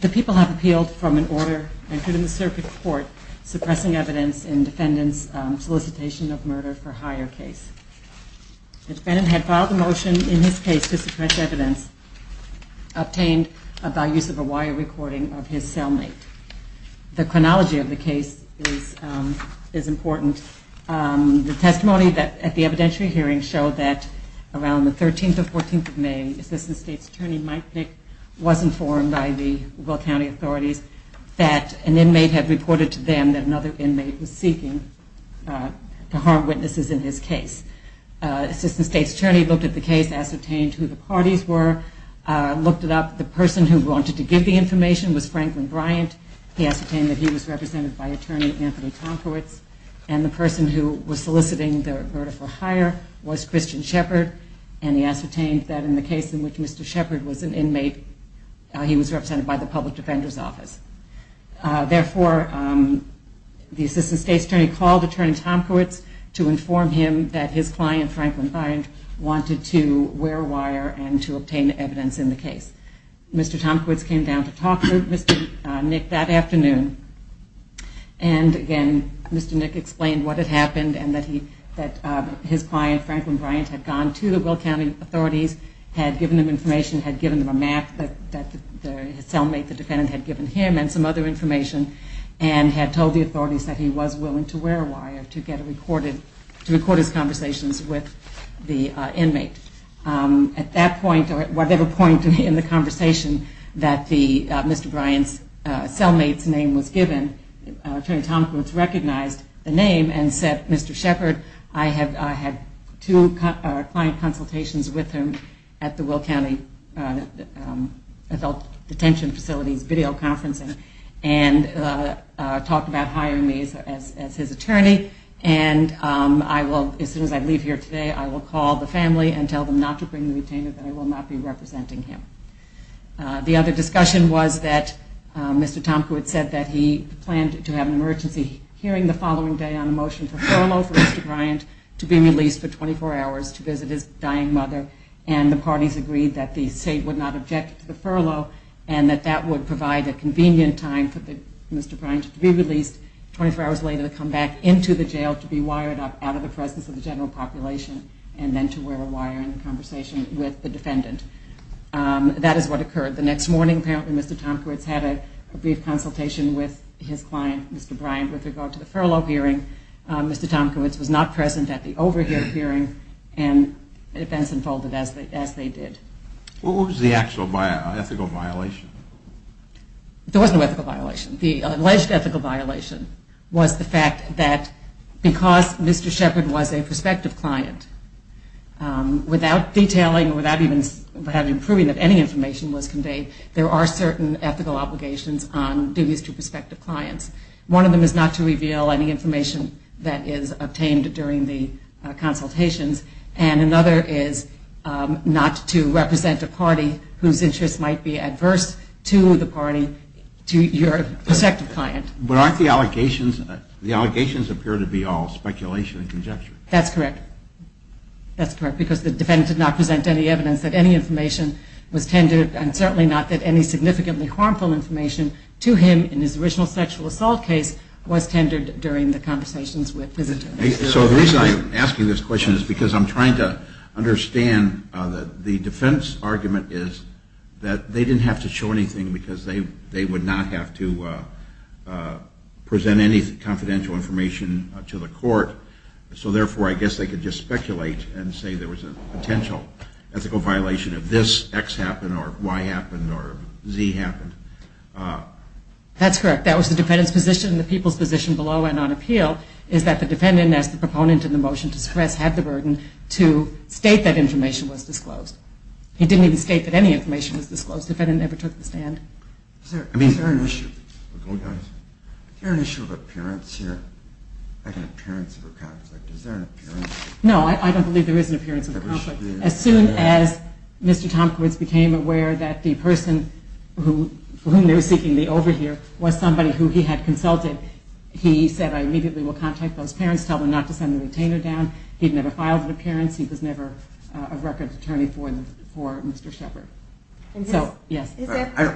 The people have appealed from an order entered in the circuit court suppressing evidence in defendants' solicitation of murder for higher cases. The defendant had filed a motion in his case to suppress evidence obtained by use of a wire recording of his cellmate. The chronology of the case is important. The testimony at the evidentiary hearing showed that around the 13th or 14th of May, Assistant State's Attorney Mike Knick was informed by the Will County authorities that an inmate had reported to them that another inmate was seeking to harm witnesses in his case. Assistant State's Attorney looked at the case, ascertained who the parties were, looked it up. The person who wanted to give the information was Franklin Bryant. He ascertained that he was represented by Attorney Anthony Tomkowitz. And the person who was soliciting the murder for higher was Christian Shepherd, and he ascertained that in the case in which Mr. Shepherd was an inmate, he was represented by the public defender's office. Therefore, the Assistant State's Attorney called Attorney Tomkowitz to inform him that his client, Franklin Bryant, wanted to wear a wire and to obtain evidence in the case. Mr. Tomkowitz came down to talk to Mr. Knick that afternoon. And again, Mr. Knick explained what had happened and that his client, Franklin Bryant, had gone to the Will County authorities, had given them information, had given them a map that the cellmate, the defendant, had given him and some other information and had told the authorities that he was willing to wear a wire to record his conversations with the inmate. At that point, or whatever point in the conversation that Mr. Bryant's cellmate's name was given, Attorney Tomkowitz recognized the name and said, Mr. Shepherd, I had two client consultations with him at the Will County Adult Detention Facility's videoconferencing and talked about hiring me as his attorney. And I will, as soon as I leave here today, I will call the family and tell them not to bring the retainer, that I will not be representing him. The other discussion was that Mr. Tomkowitz said that he planned to have an emergency hearing the following day on a motion for furlough for Mr. Bryant to be released for 24 hours to visit his dying mother and the parties agreed that the state would not object to the furlough and that that would provide a convenient time for Mr. Bryant to be released 24 hours later to come back into the jail to be wired up out of the presence of the general population and then to wear a wire in the conversation with the defendant. That is what occurred the next morning. Apparently Mr. Tomkowitz had a brief consultation with his client, Mr. Bryant, with regard to the furlough hearing. Mr. Tomkowitz was not present at the overheard hearing and events unfolded as they did. What was the actual ethical violation? There was no ethical violation. The alleged ethical violation was the fact that because Mr. Sheppard was a prospective client, without detailing or without even proving that any information was conveyed, there are certain ethical obligations on duties to prospective clients. One of them is not to reveal any information that is obtained during the consultations and another is not to represent a party whose interests might be adverse to the party, to your prospective client. But aren't the allegations, the allegations appear to be all speculation and conjecture? That's correct. That's correct because the defendant did not present any evidence that any information was tendered and certainly not that any significantly harmful information to him in his original sexual assault case was tendered during the conversations with visitors. So the reason I'm asking this question is because I'm trying to understand that the defense argument is that they didn't have to show anything because they would not have to present any confidential information to the court. So therefore I guess they could just speculate and say there was a potential ethical violation if this X happened or Y happened or Z happened. That's correct. That was the defendant's position. The people's position below and on appeal is that the defendant, as the proponent in the motion to express, had the burden to state that information was disclosed. He didn't even state that any information was disclosed. The defendant never took the stand. Is there an issue of appearance here, like an appearance of a conflict? Is there an appearance? No, I don't believe there is an appearance of a conflict. As soon as Mr. Tompkins became aware that the person for whom they were seeking the overhear was somebody who he had consulted, he said I immediately will contact those parents, tell them not to send the retainer down. He never filed an appearance. He was never a record attorney for Mr. Shepard. No, I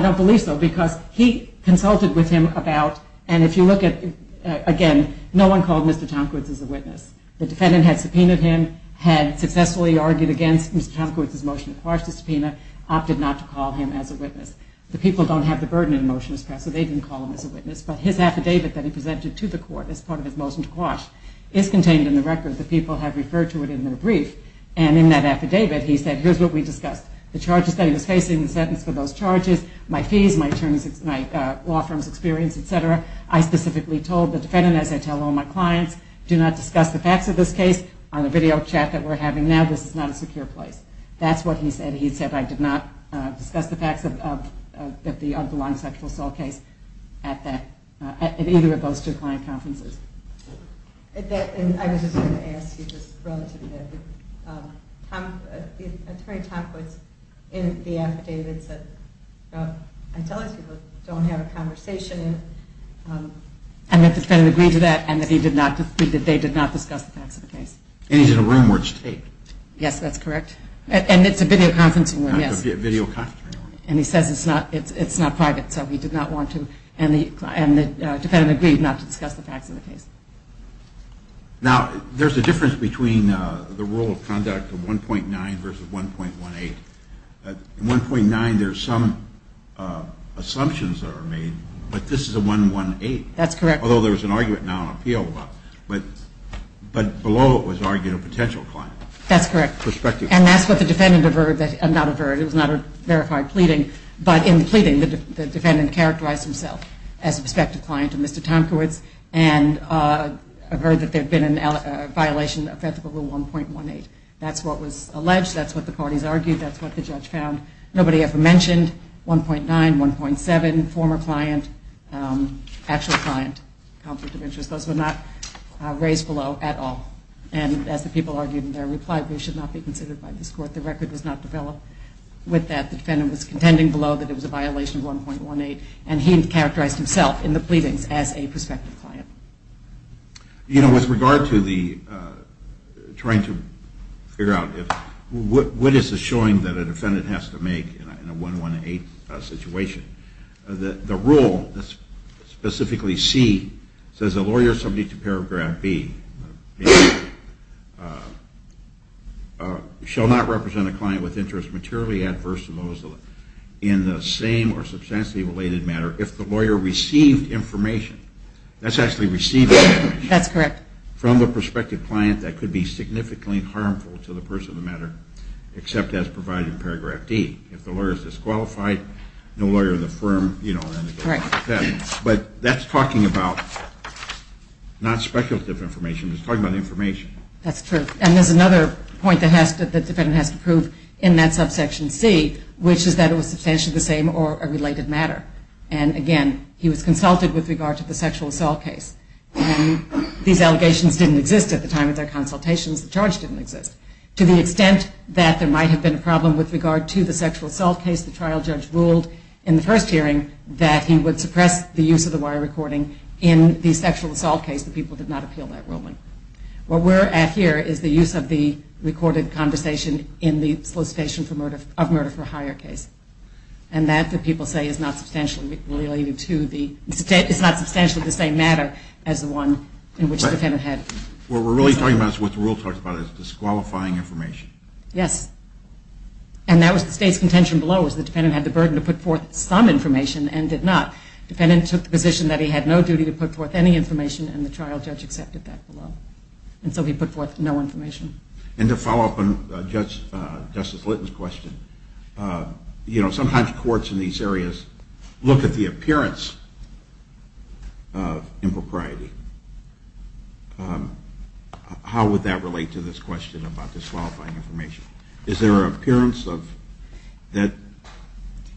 don't believe so because he consulted with him about, and if you look at, again, no one called Mr. Tompkins as a witness. The defendant had subpoenaed him, had successfully argued against Mr. Tompkins' motion to parse the subpoena, opted not to call him as a witness. The people don't have the burden in a motion to express, so they didn't call him as a witness, but his affidavit that he presented to the court as part of his motion to quash is contained in the record. The people have referred to it in their brief, and in that affidavit, he said, here's what we discussed. The charges that he was facing, the sentence for those charges, my fees, my law firm's experience, etc. I specifically told the defendant, as I tell all my clients, do not discuss the facts of this case on the video chat that we're having now. This is not a secure place. That's what he said. He said, I did not discuss the facts of the unbelonging sexual assault case at either of those two client conferences. I was just going to ask you this relative to that. Attorney Tompkins, in the affidavit, said, I tell these people, don't have a conversation. And the defendant agreed to that, and that they did not discuss the facts of the case. And he's in a room where it's taped. Yes, that's correct. And it's a video conferencing room, yes. Video conferencing room. And he says it's not private, so he did not want to, and the defendant agreed not to discuss the facts of the case. Now, there's a difference between the rule of conduct of 1.9 versus 1.18. In 1.9, there's some assumptions that are made, but this is a 1.18. That's correct. Although there's an argument now in appeal, but below it was argued a potential client. That's correct. Perspective. And that's what the defendant averred, not averred, it was not a verified pleading. But in the pleading, the defendant characterized himself as a prospective client of Mr. Tomkiewicz and averred that there had been a violation of ethical rule 1.18. That's what was alleged, that's what the parties argued, that's what the judge found. Nobody ever mentioned 1.9, 1.7, former client, actual client. Those were not raised below at all. And as the people argued in their reply, they should not be considered by this court. The record was not developed with that. The defendant was contending below that it was a violation of 1.18, and he characterized himself in the pleadings as a prospective client. You know, with regard to the trying to figure out what is the showing that a defendant has to make in a 1.18 situation, the rule, specifically C, says a lawyer subject to Paragraph B shall not represent a client with interests materially adverse to those in the same or substantially related matter if the lawyer received information. That's actually receiving information. That's correct. From the prospective client that could be significantly harmful to the person of the matter, except as provided in Paragraph D. If the lawyer is disqualified, no lawyer in the firm, you know. Correct. But that's talking about not speculative information. It's talking about information. That's true. And there's another point that the defendant has to prove in that subsection C, which is that it was substantially the same or a related matter. And again, he was consulted with regard to the sexual assault case. These allegations didn't exist at the time of their consultations. The charge didn't exist. To the extent that there might have been a problem with regard to the sexual assault case, the trial judge ruled in the first hearing that he would suppress the use of the wire recording in the sexual assault case. The people did not appeal that ruling. What we're at here is the use of the recorded conversation in the solicitation of murder for hire case. And that, the people say, is not substantially related to the state. It's not substantially the same matter as the one in which the defendant had. What we're really talking about is what the rule talks about is disqualifying information. Yes. And that was the state's contention below, was the defendant had the burden to put forth some information and did not. The defendant took the position that he had no duty to put forth any information, and the trial judge accepted that below. And so he put forth no information. And to follow up on Justice Litton's question, you know, sometimes courts in these areas look at the appearance of impropriety. How would that relate to this question about disqualifying information? Is there an appearance of that?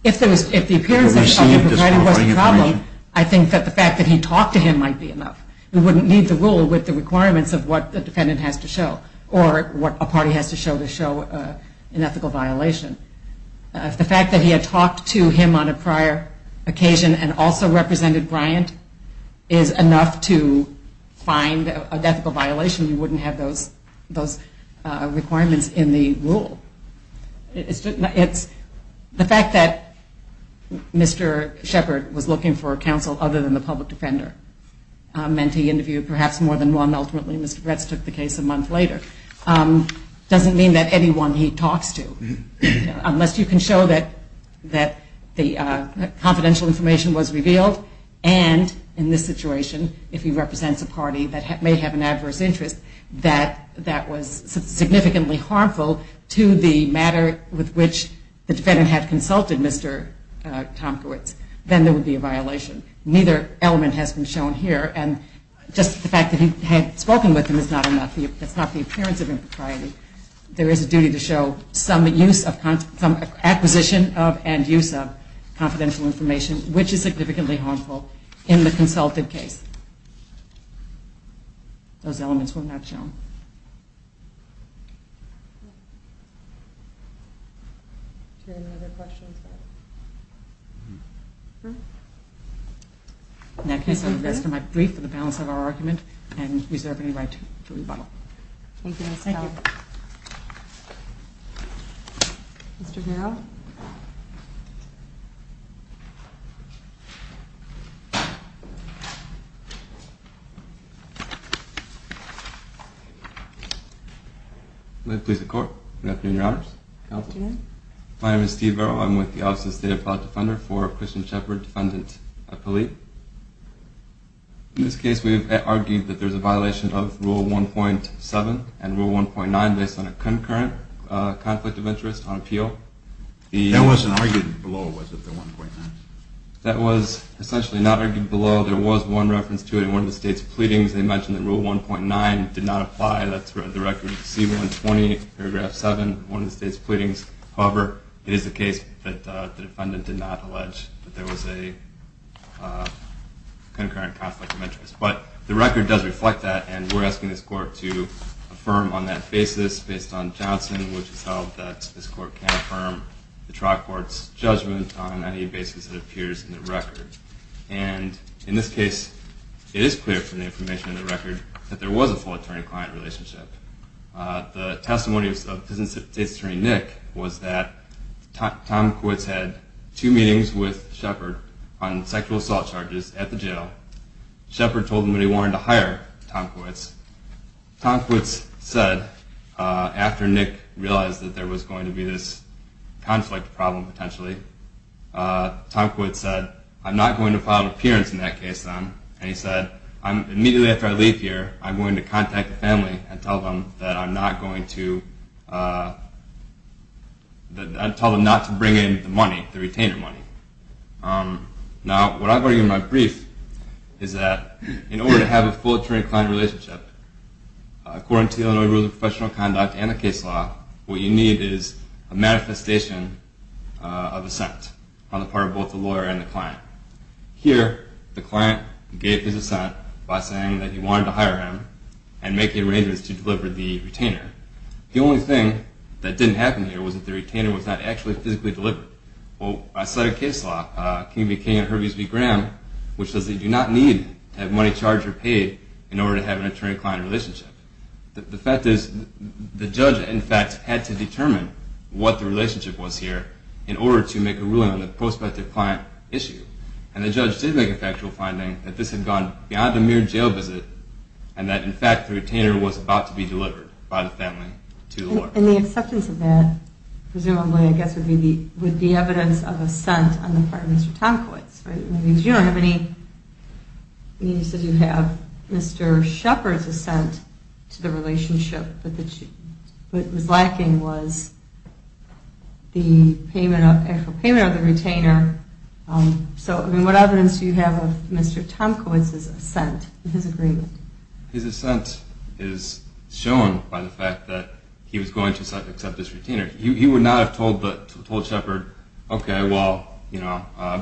If the appearance of disqualifying information was the problem, I think that the fact that he talked to him might be enough. We wouldn't need the rule with the requirements of what the defendant has to show or what a party has to show to show an ethical violation. If the fact that he had talked to him on a prior occasion and also represented Bryant is enough to find an ethical violation, we wouldn't have those requirements in the rule. It's the fact that Mr. Shepard was looking for counsel other than the public defender meant he interviewed perhaps more than one. And ultimately, Mr. Retz took the case a month later. It doesn't mean that anyone he talks to, unless you can show that the confidential information was revealed, and in this situation, if he represents a party that may have an adverse interest that was significantly harmful to the matter with which the defendant had consulted Mr. Tomkowitz, then there would be a violation. Neither element has been shown here. And just the fact that he had spoken with him is not enough. That's not the appearance of impropriety. There is a duty to show some acquisition and use of confidential information, which is significantly harmful in the consulted case. Those elements were not shown. Are there any other questions? No. In that case, I would like to make a brief for the balance of our argument and reserve any right to rebuttal. Thank you. Thank you. Mr. Verrill. Good afternoon, Your Honors. Good afternoon. My name is Steve Verrill. I'm with the Office of the State Appellate Defender for Christian Shepherd Defendant Appellate. In this case, we've argued that there's a violation of Rule 1.7 and Rule 1.9 based on a concurrent conflict of interest on appeal. That wasn't argued below, was it, the 1.9? That was essentially not argued below. There was one reference to it in one of the state's pleadings. They mentioned that Rule 1.9 did not apply. That's the record C-120, Paragraph 7, one of the state's pleadings. However, it is the case that the defendant did not allege that there was a concurrent conflict of interest. But the record does reflect that, and we're asking this Court to affirm on that basis based on Johnson, which has held that this Court can't affirm the trial court's judgment on any basis that appears in the record. And in this case, it is clear from the information in the record that there was a full attorney-client relationship. The testimony of Assistant State's Attorney Nick was that Tom Kwitz had two meetings with Shepherd on sexual assault charges at the jail. Shepherd told him that he wanted to hire Tom Kwitz. Tom Kwitz said, after Nick realized that there was going to be this conflict problem potentially, Tom Kwitz said, I'm not going to file an appearance in that case, then. And he said, immediately after I leave here, I'm going to contact the family and tell them that I'm not going to bring in the money, the retainer money. Now, what I'm going to give in my brief is that in order to have a full attorney-client relationship, according to the Illinois Rules of Professional Conduct and the case law, what you need is a manifestation of assent on the part of both the lawyer and the client. Here, the client gave his assent by saying that he wanted to hire him and make the arrangements to deliver the retainer. The only thing that didn't happen here was that the retainer was not actually physically delivered. Well, I said in case law, King v. King and Herbie v. Graham, which says they do not need to have money charged or paid in order to have an attorney-client relationship. The fact is, the judge, in fact, had to determine what the relationship was here in order to make a ruling on the prospective client issue. And the judge did make a factual finding that this had gone beyond a mere jail visit and that, in fact, the retainer was about to be delivered by the family to the lawyer. And the acceptance of that, presumably, I guess, would be evidence of assent on the part of Mr. Tom Kwitz. You don't have any evidence that you have Mr. Shepard's assent to the relationship, but what was lacking was the actual payment of the retainer. So, I mean, what evidence do you have of Mr. Tom Kwitz's assent, his agreement? His assent is shown by the fact that he was going to accept this retainer. He would not have told Shepard, okay, well,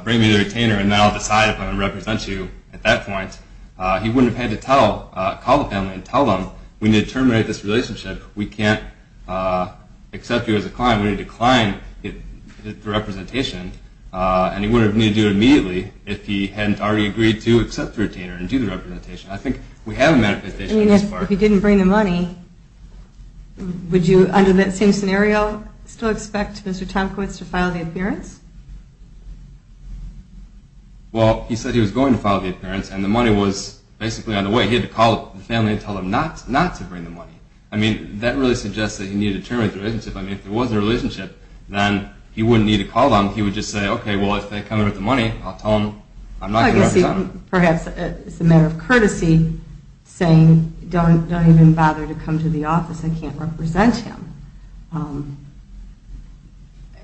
bring me the retainer and then I'll decide if I'm going to represent you at that point. He wouldn't have had to call the family and tell them, we need to terminate this relationship. We can't accept you as a client. We need to decline the representation. And he wouldn't have needed to do it immediately if he hadn't already agreed to accept the retainer and do the representation. I mean, if he didn't bring the money, would you, under that same scenario, still expect Mr. Tom Kwitz to file the appearance? Well, he said he was going to file the appearance, and the money was basically on the way. He had to call the family and tell them not to bring the money. I mean, that really suggests that he needed to terminate the relationship. I mean, if there was a relationship, then he wouldn't need to call them. He would just say, okay, well, if they come in with the money, I'll tell them I'm not going to represent them. Well, I guess perhaps it's a matter of courtesy saying, don't even bother to come to the office. I can't represent him.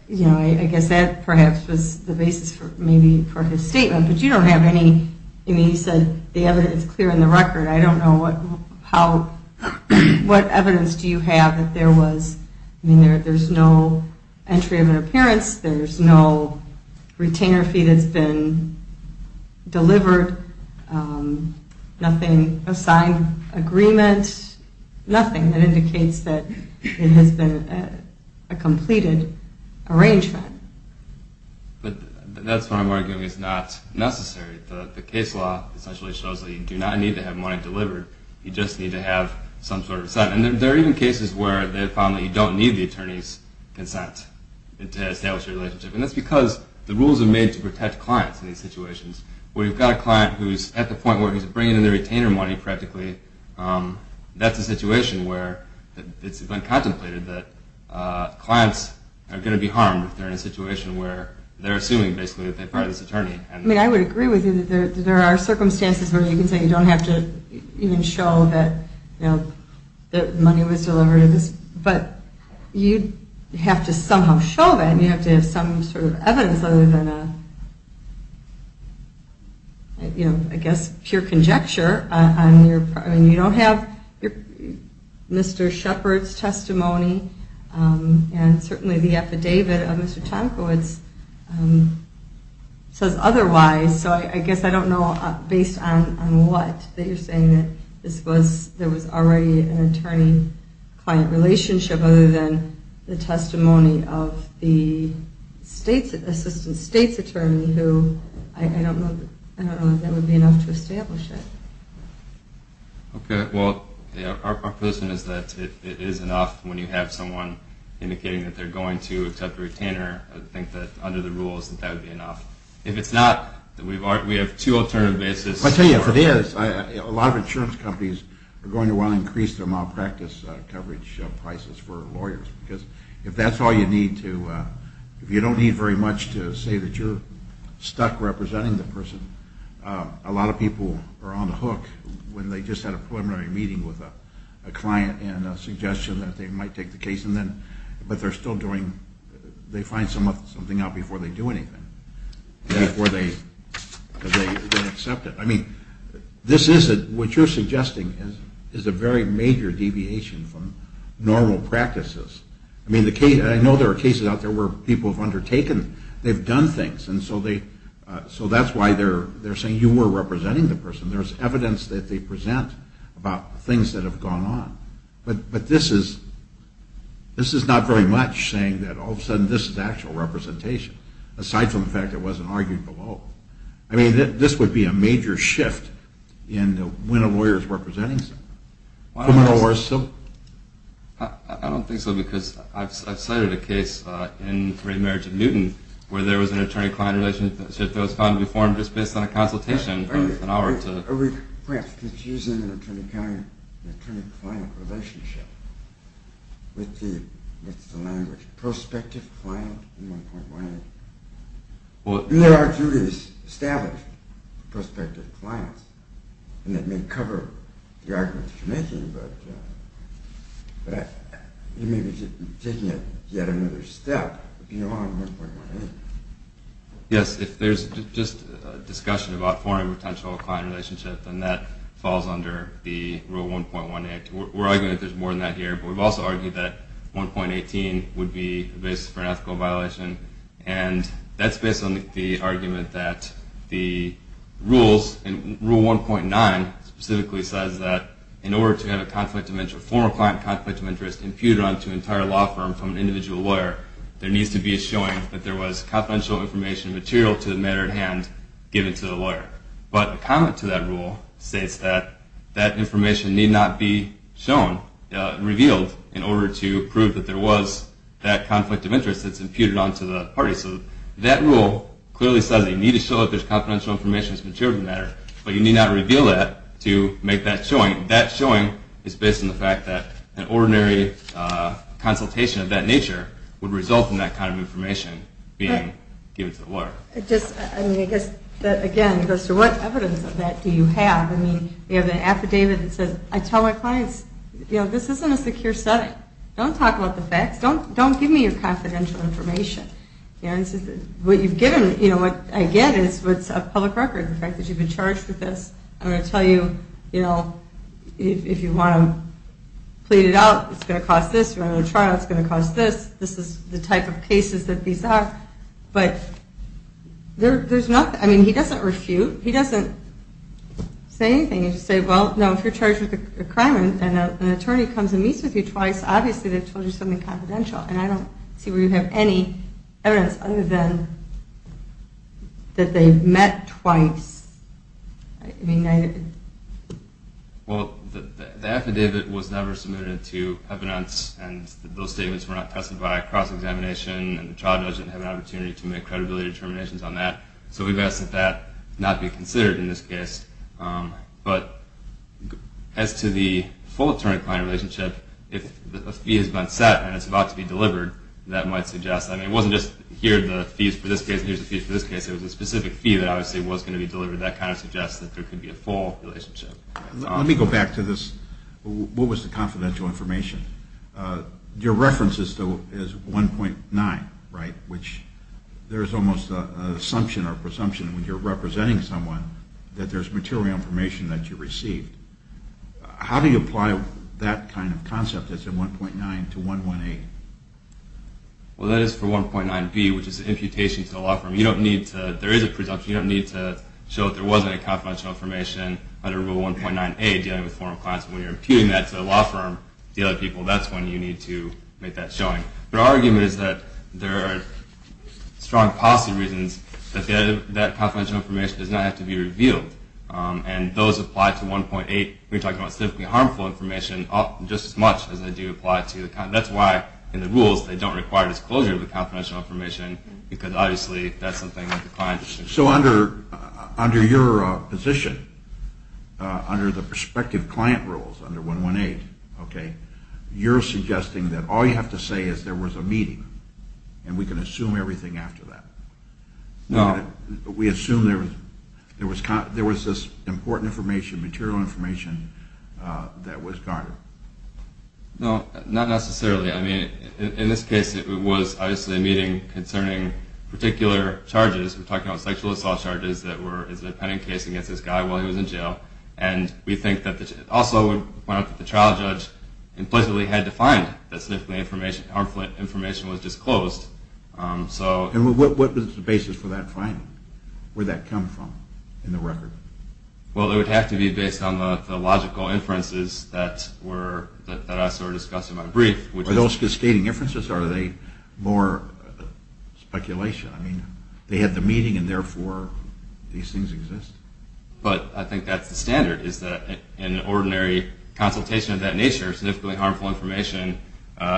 You know, I guess that perhaps was the basis maybe for his statement. But you don't have any, I mean, he said the evidence is clear in the record. I don't know what evidence do you have that there was, I mean, there's no entry of an appearance. There's no retainer fee that's been delivered. Nothing, a signed agreement. Nothing that indicates that it has been a completed arrangement. But that's what I'm arguing is not necessary. The case law essentially shows that you do not need to have money delivered. You just need to have some sort of consent. And there are even cases where they found that you don't need the attorney's consent to establish a relationship. And that's because the rules are made to protect clients in these situations. When you've got a client who's at the point where he's bringing in the retainer money practically, that's a situation where it's been contemplated that clients are going to be harmed if they're in a situation where they're assuming basically that they fire this attorney. I mean, I would agree with you that there are circumstances where you can say you don't have to even show that, you know, that money was delivered. But you have to somehow show that and you have to have some sort of evidence other than a, you know, I guess pure conjecture. I mean, you don't have Mr. Shepard's testimony and certainly the affidavit of Mr. Tomkowitz says otherwise. So I guess I don't know based on what that you're saying that there was already an attorney-client relationship other than the testimony of the state's assistant state's attorney who I don't know if that would be enough to establish it. Okay, well, our position is that it is enough when you have someone indicating that they're going to accept a retainer. I think that under the rules that that would be enough. If it's not, we have two alternative basis. I tell you, if it is, a lot of insurance companies are going to want to increase their malpractice coverage prices for lawyers. Because if that's all you need to, if you don't need very much to say that you're stuck representing the person, a lot of people are on the hook when they just had a preliminary meeting with a client and a suggestion that they might take the case. But they're still doing, they find something out before they do anything, before they accept it. I mean, this is what you're suggesting is a very major deviation from normal practices. I mean, I know there are cases out there where people have undertaken, they've done things. And so that's why they're saying you were representing the person. There's evidence that they present about things that have gone on. But this is not very much saying that all of a sudden this is actual representation. Aside from the fact it wasn't argued below. I mean, this would be a major shift in when a lawyer is representing someone. I don't think so, because I've cited a case in Great Marriage of Newton, where there was an attorney-client relationship that was found to be formed just based on a consultation. Are we perhaps confusing an attorney-client relationship with the language prospective client in 1.18? I mean, there are duties established for prospective clients, and that may cover the arguments you're making, but you may be taking yet another step beyond 1.18. Yes, if there's just a discussion about forming a potential client relationship, then that falls under the Rule 1.18. We're arguing that there's more than that here, but we've also argued that 1.18 would be the basis for an ethical violation. And that's based on the argument that the rules, and Rule 1.9 specifically says that in order to have a conflict of interest, a former client conflict of interest, imputed onto an entire law firm from an individual lawyer, there needs to be a showing that there was confidential information material to the matter at hand given to the lawyer. But a comment to that rule states that that information need not be shown, revealed, in order to prove that there was that conflict of interest that's imputed onto the parties. So that rule clearly says that you need to show that there's confidential information that's material to the matter, but you need not reveal that to make that showing. That showing is based on the fact that an ordinary consultation of that nature would result in that kind of information being given to the lawyer. Again, it goes to what evidence of that do you have? You have an affidavit that says, I tell my clients, this isn't a secure setting. Don't talk about the facts. Don't give me your confidential information. What I get is what's a public record, the fact that you've been charged with this. I'm going to tell you if you want to plead it out, it's going to cost this. You want to go to trial, it's going to cost this. This is the type of cases that these are. But he doesn't refute. He doesn't say anything. He just says, well, no, if you're charged with a crime and an attorney comes and meets with you twice, obviously they've told you something confidential. And I don't see where you have any evidence other than that they've met twice. I mean, I... Well, the affidavit was never submitted to evidence, and those statements were not tested by a cross-examination, and the trial doesn't have an opportunity to make credibility determinations on that. So we've asked that that not be considered in this case. But as to the full attorney-client relationship, if a fee has been set and it's about to be delivered, that might suggest that. I mean, it wasn't just here are the fees for this case and here's the fees for this case. It was a specific fee that obviously was going to be delivered. That kind of suggests that there could be a full relationship. Let me go back to this. What was the confidential information? Your reference is 1.9, right, which there's almost an assumption or presumption when you're representing someone that there's material information that you received. How do you apply that kind of concept as in 1.9 to 1.18? Well, that is for 1.9b, which is an imputation to the law firm. You don't need to – there is a presumption. You don't need to show that there wasn't any confidential information under Rule 1.9a dealing with formal clients. When you're imputing that to the law firm, the other people, that's when you need to make that showing. But our argument is that there are strong policy reasons that that confidential information does not have to be revealed. And those apply to 1.8. We're talking about significantly harmful information, just as much as they do apply to – that's why in the rules they don't require disclosure of the confidential information because obviously that's something that the client is concerned about. So under your position, under the prospective client rules under 1.1.8, okay, you're suggesting that all you have to say is there was a meeting and we can assume everything after that? No. We assume there was this important information, material information, that was garnered? No, not necessarily. I mean, in this case it was obviously a meeting concerning particular charges. We're talking about sexual assault charges that were – it was a pending case against this guy while he was in jail. And we think that – also we point out that the trial judge implicitly had to find that significantly harmful information was disclosed. And what was the basis for that finding? Where did that come from in the record? Well, it would have to be based on the logical inferences that were – Are those just stating inferences or are they more speculation? I mean, they had the meeting and therefore these things exist. But I think that's the standard is that in an ordinary consultation of that nature, significantly harmful information,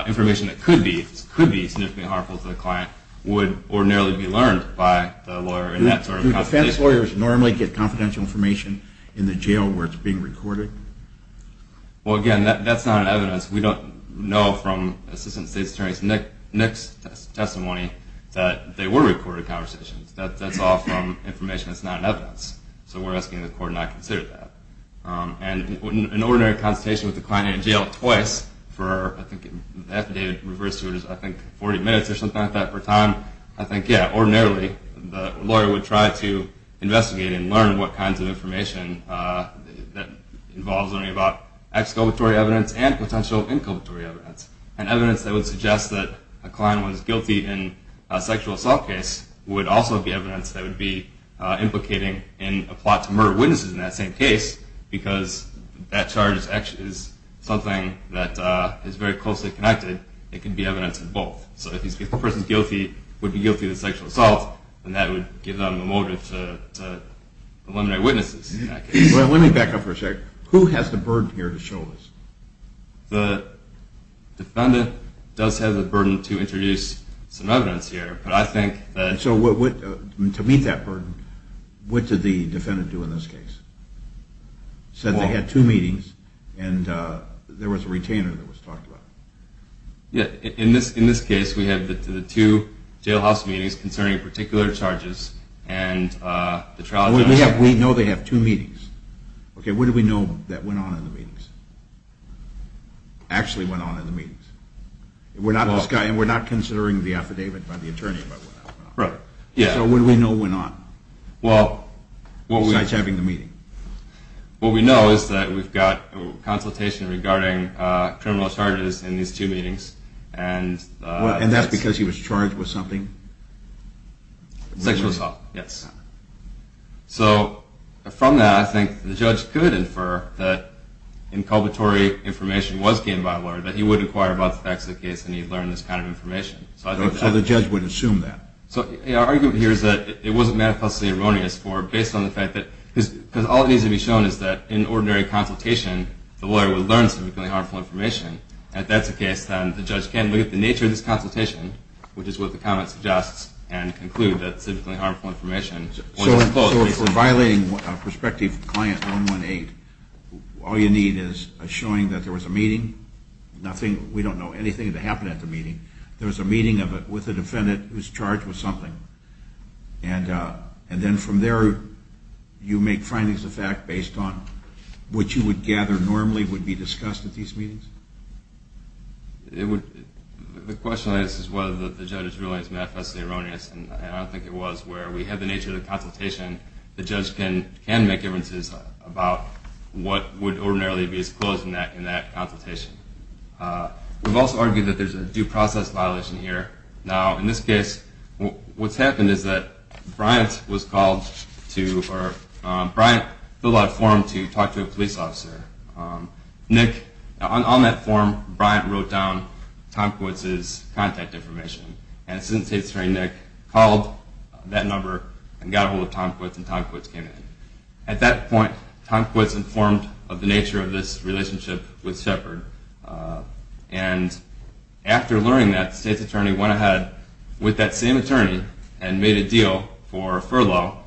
information that could be significantly harmful to the client, would ordinarily be learned by the lawyer in that sort of consultation. Do defense lawyers normally get confidential information in the jail where it's being recorded? Well, again, that's not evidence. We don't know from Assistant State's Attorney Nick's testimony that they were recorded conversations. That's all from information that's not evidence. So we're asking the court not to consider that. And in an ordinary consultation with the client in jail twice for, I think, affidavit reversed to, I think, 40 minutes or something like that per time, I think, yeah, ordinarily the lawyer would try to investigate and learn what kinds of information that involves learning about both exculpatory evidence and potential inculpatory evidence. And evidence that would suggest that a client was guilty in a sexual assault case would also be evidence that would be implicating in a plot to murder witnesses in that same case because that charge is something that is very closely connected. It could be evidence of both. So if a person is guilty, would be guilty of sexual assault, then that would give them a motive to eliminate witnesses in that case. Well, let me back up for a second. Who has the burden here to show this? The defendant does have the burden to introduce some evidence here, but I think that... So to meet that burden, what did the defendant do in this case? Said they had two meetings and there was a retainer that was talked about. Yeah, in this case we have the two jailhouse meetings concerning particular charges We know they have two meetings. Okay, what do we know that went on in the meetings? Actually went on in the meetings. We're not considering the affidavit by the attorney about what went on. So what do we know went on besides having the meeting? What we know is that we've got consultation regarding criminal charges in these two meetings. And that's because he was charged with something? Sexual assault, yes. So from that, I think the judge could infer that inculpatory information was gained by the lawyer, that he would inquire about the facts of the case and he'd learn this kind of information. So the judge would assume that. So our argument here is that it wasn't manifestly erroneous for, based on the fact that... because all it needs to be shown is that in ordinary consultation, the lawyer would learn some really harmful information. If that's the case, then the judge can look at the nature of this consultation, which is what the comment suggests, and conclude that it's simply harmful information. So if we're violating prospective client 118, all you need is showing that there was a meeting, nothing, we don't know anything that happened at the meeting, there was a meeting with a defendant who was charged with something. And then from there, you make findings of fact based on what you would gather normally would be discussed at these meetings? The question I guess is whether the judge's ruling is manifestly erroneous, and I don't think it was, where we had the nature of the consultation, the judge can make inferences about what would ordinarily be disclosed in that consultation. We've also argued that there's a due process violation here. Now, in this case, what's happened is that Bryant was called to... Bryant filled out a form to talk to a police officer. Nick, on that form, Bryant wrote down Tom Quits' contact information, and Assistant State's Attorney Nick called that number and got a hold of Tom Quits, and Tom Quits came in. At that point, Tom Quits informed of the nature of this relationship with Shepard, and after learning that, the State's Attorney went ahead with that same attorney and made a deal for a furlough.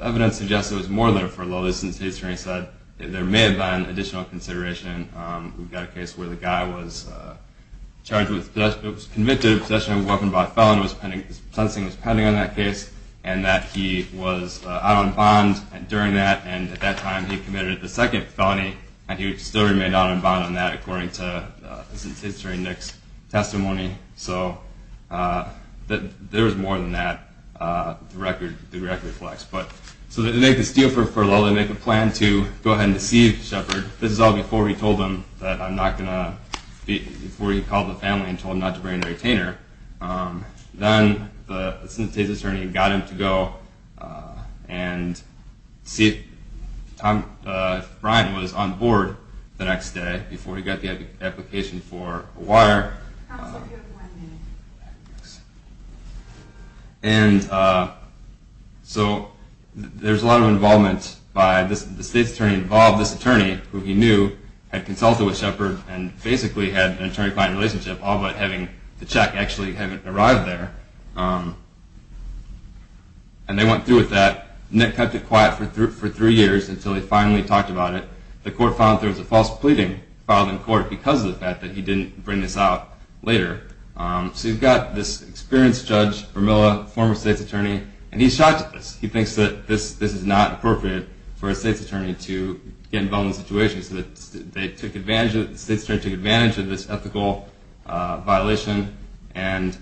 Evidence suggests there was more than a furlough, the Assistant State's Attorney said. There may have been additional consideration. We've got a case where the guy was charged with... It was convicted of possession of a weapon by a felon. Sentencing was pending on that case, and that he was out on bond during that, and at that time he committed the second felony, and he still remained out on bond on that according to the Assistant State's Attorney Nick's testimony. So there was more than that, the record reflects. So they make this deal for a furlough. They make a plan to go ahead and deceive Shepard. This is all before he called the family and told them not to bring a retainer. Then the Assistant State's Attorney got him to go and see if Bryant was on board the next day before he got the application for a wire. And so there's a lot of involvement by the State's Attorney involved. This attorney, who he knew, had consulted with Shepard and basically had an attorney-client relationship, all but having to check actually having arrived there. And they went through with that. Nick kept it quiet for three years until he finally talked about it. The court found there was a false pleading filed in court because of the fact that he didn't bring this out later. So you've got this experienced judge, Vermilla, former State's Attorney, and he's shocked at this. He thinks that this is not appropriate for a State's Attorney to get involved in a situation. So the State's Attorney took advantage of this ethical violation, and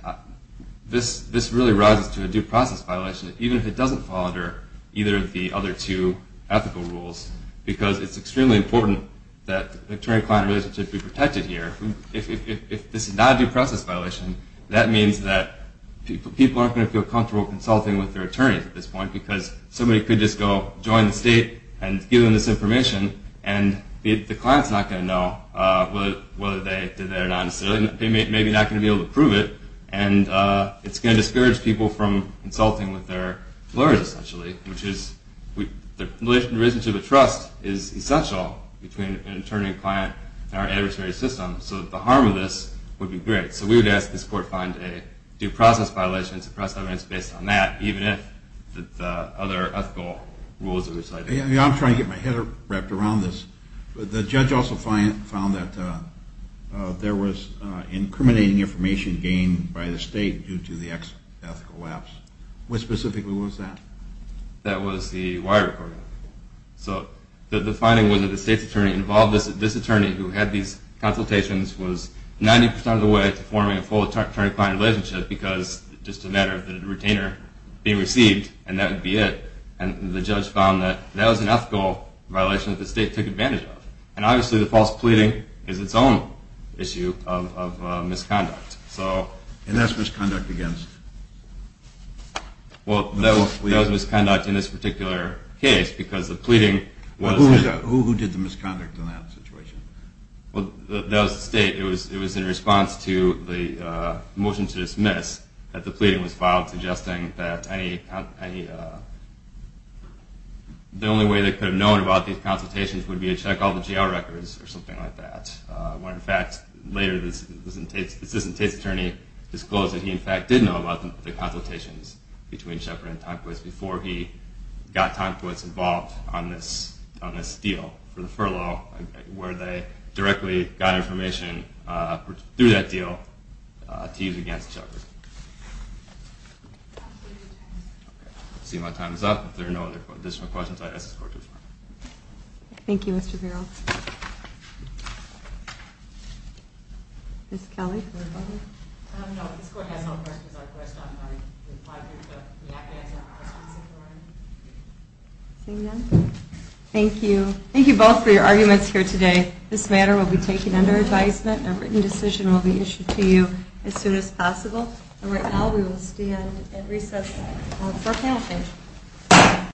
this really rises to a due process violation, even if it doesn't fall under either of the other two ethical rules, because it's extremely important that the attorney-client relationship be protected here. If this is not a due process violation, that means that people aren't going to feel comfortable consulting with their attorneys at this point because somebody could just go join the State and give them this information, and the client's not going to know whether they did that or not necessarily. They may be not going to be able to prove it, and it's going to discourage people from consulting with their lawyers, essentially, which is the relationship of trust is essential between an attorney-client and our adversary system, so that the harm of this would be great. So we would ask that this court find a due process violation and suppress evidence based on that, even if the other ethical rules that we've cited. I'm trying to get my head wrapped around this, but the judge also found that there was incriminating information gained by the State due to the ethical lapse. What specifically was that? That was the wire recording. So the finding was that the State's attorney involved this attorney who had these consultations was 90% of the way to forming a full attorney-client relationship because it's just a matter of the retainer being received, and that would be it. And the judge found that that was an ethical violation that the State took advantage of. And obviously the false pleading is its own issue of misconduct. And that's misconduct against? Well, that was misconduct in this particular case because the pleading was... Who did the misconduct in that situation? Well, that was the State. It was in response to the motion to dismiss that the pleading was filed suggesting that the only way they could have known about these consultations would be to check all the jail records or something like that, when in fact later the Assistant Tate's attorney disclosed that he in fact did know about the consultations between Shepard and Tomquist before he got Tomquist involved on this deal for the furlough where they directly got information through that deal to use against Shepard. Let's see if my time is up. If there are no additional questions, I'd ask the Court to adjourn. Thank you, Mr. Vero. Ms. Kelly? Thank you. Thank you both for your arguments here today. This matter will be taken under advisement. A written decision will be issued to you as soon as possible. And right now we will stand at recess for a panel session.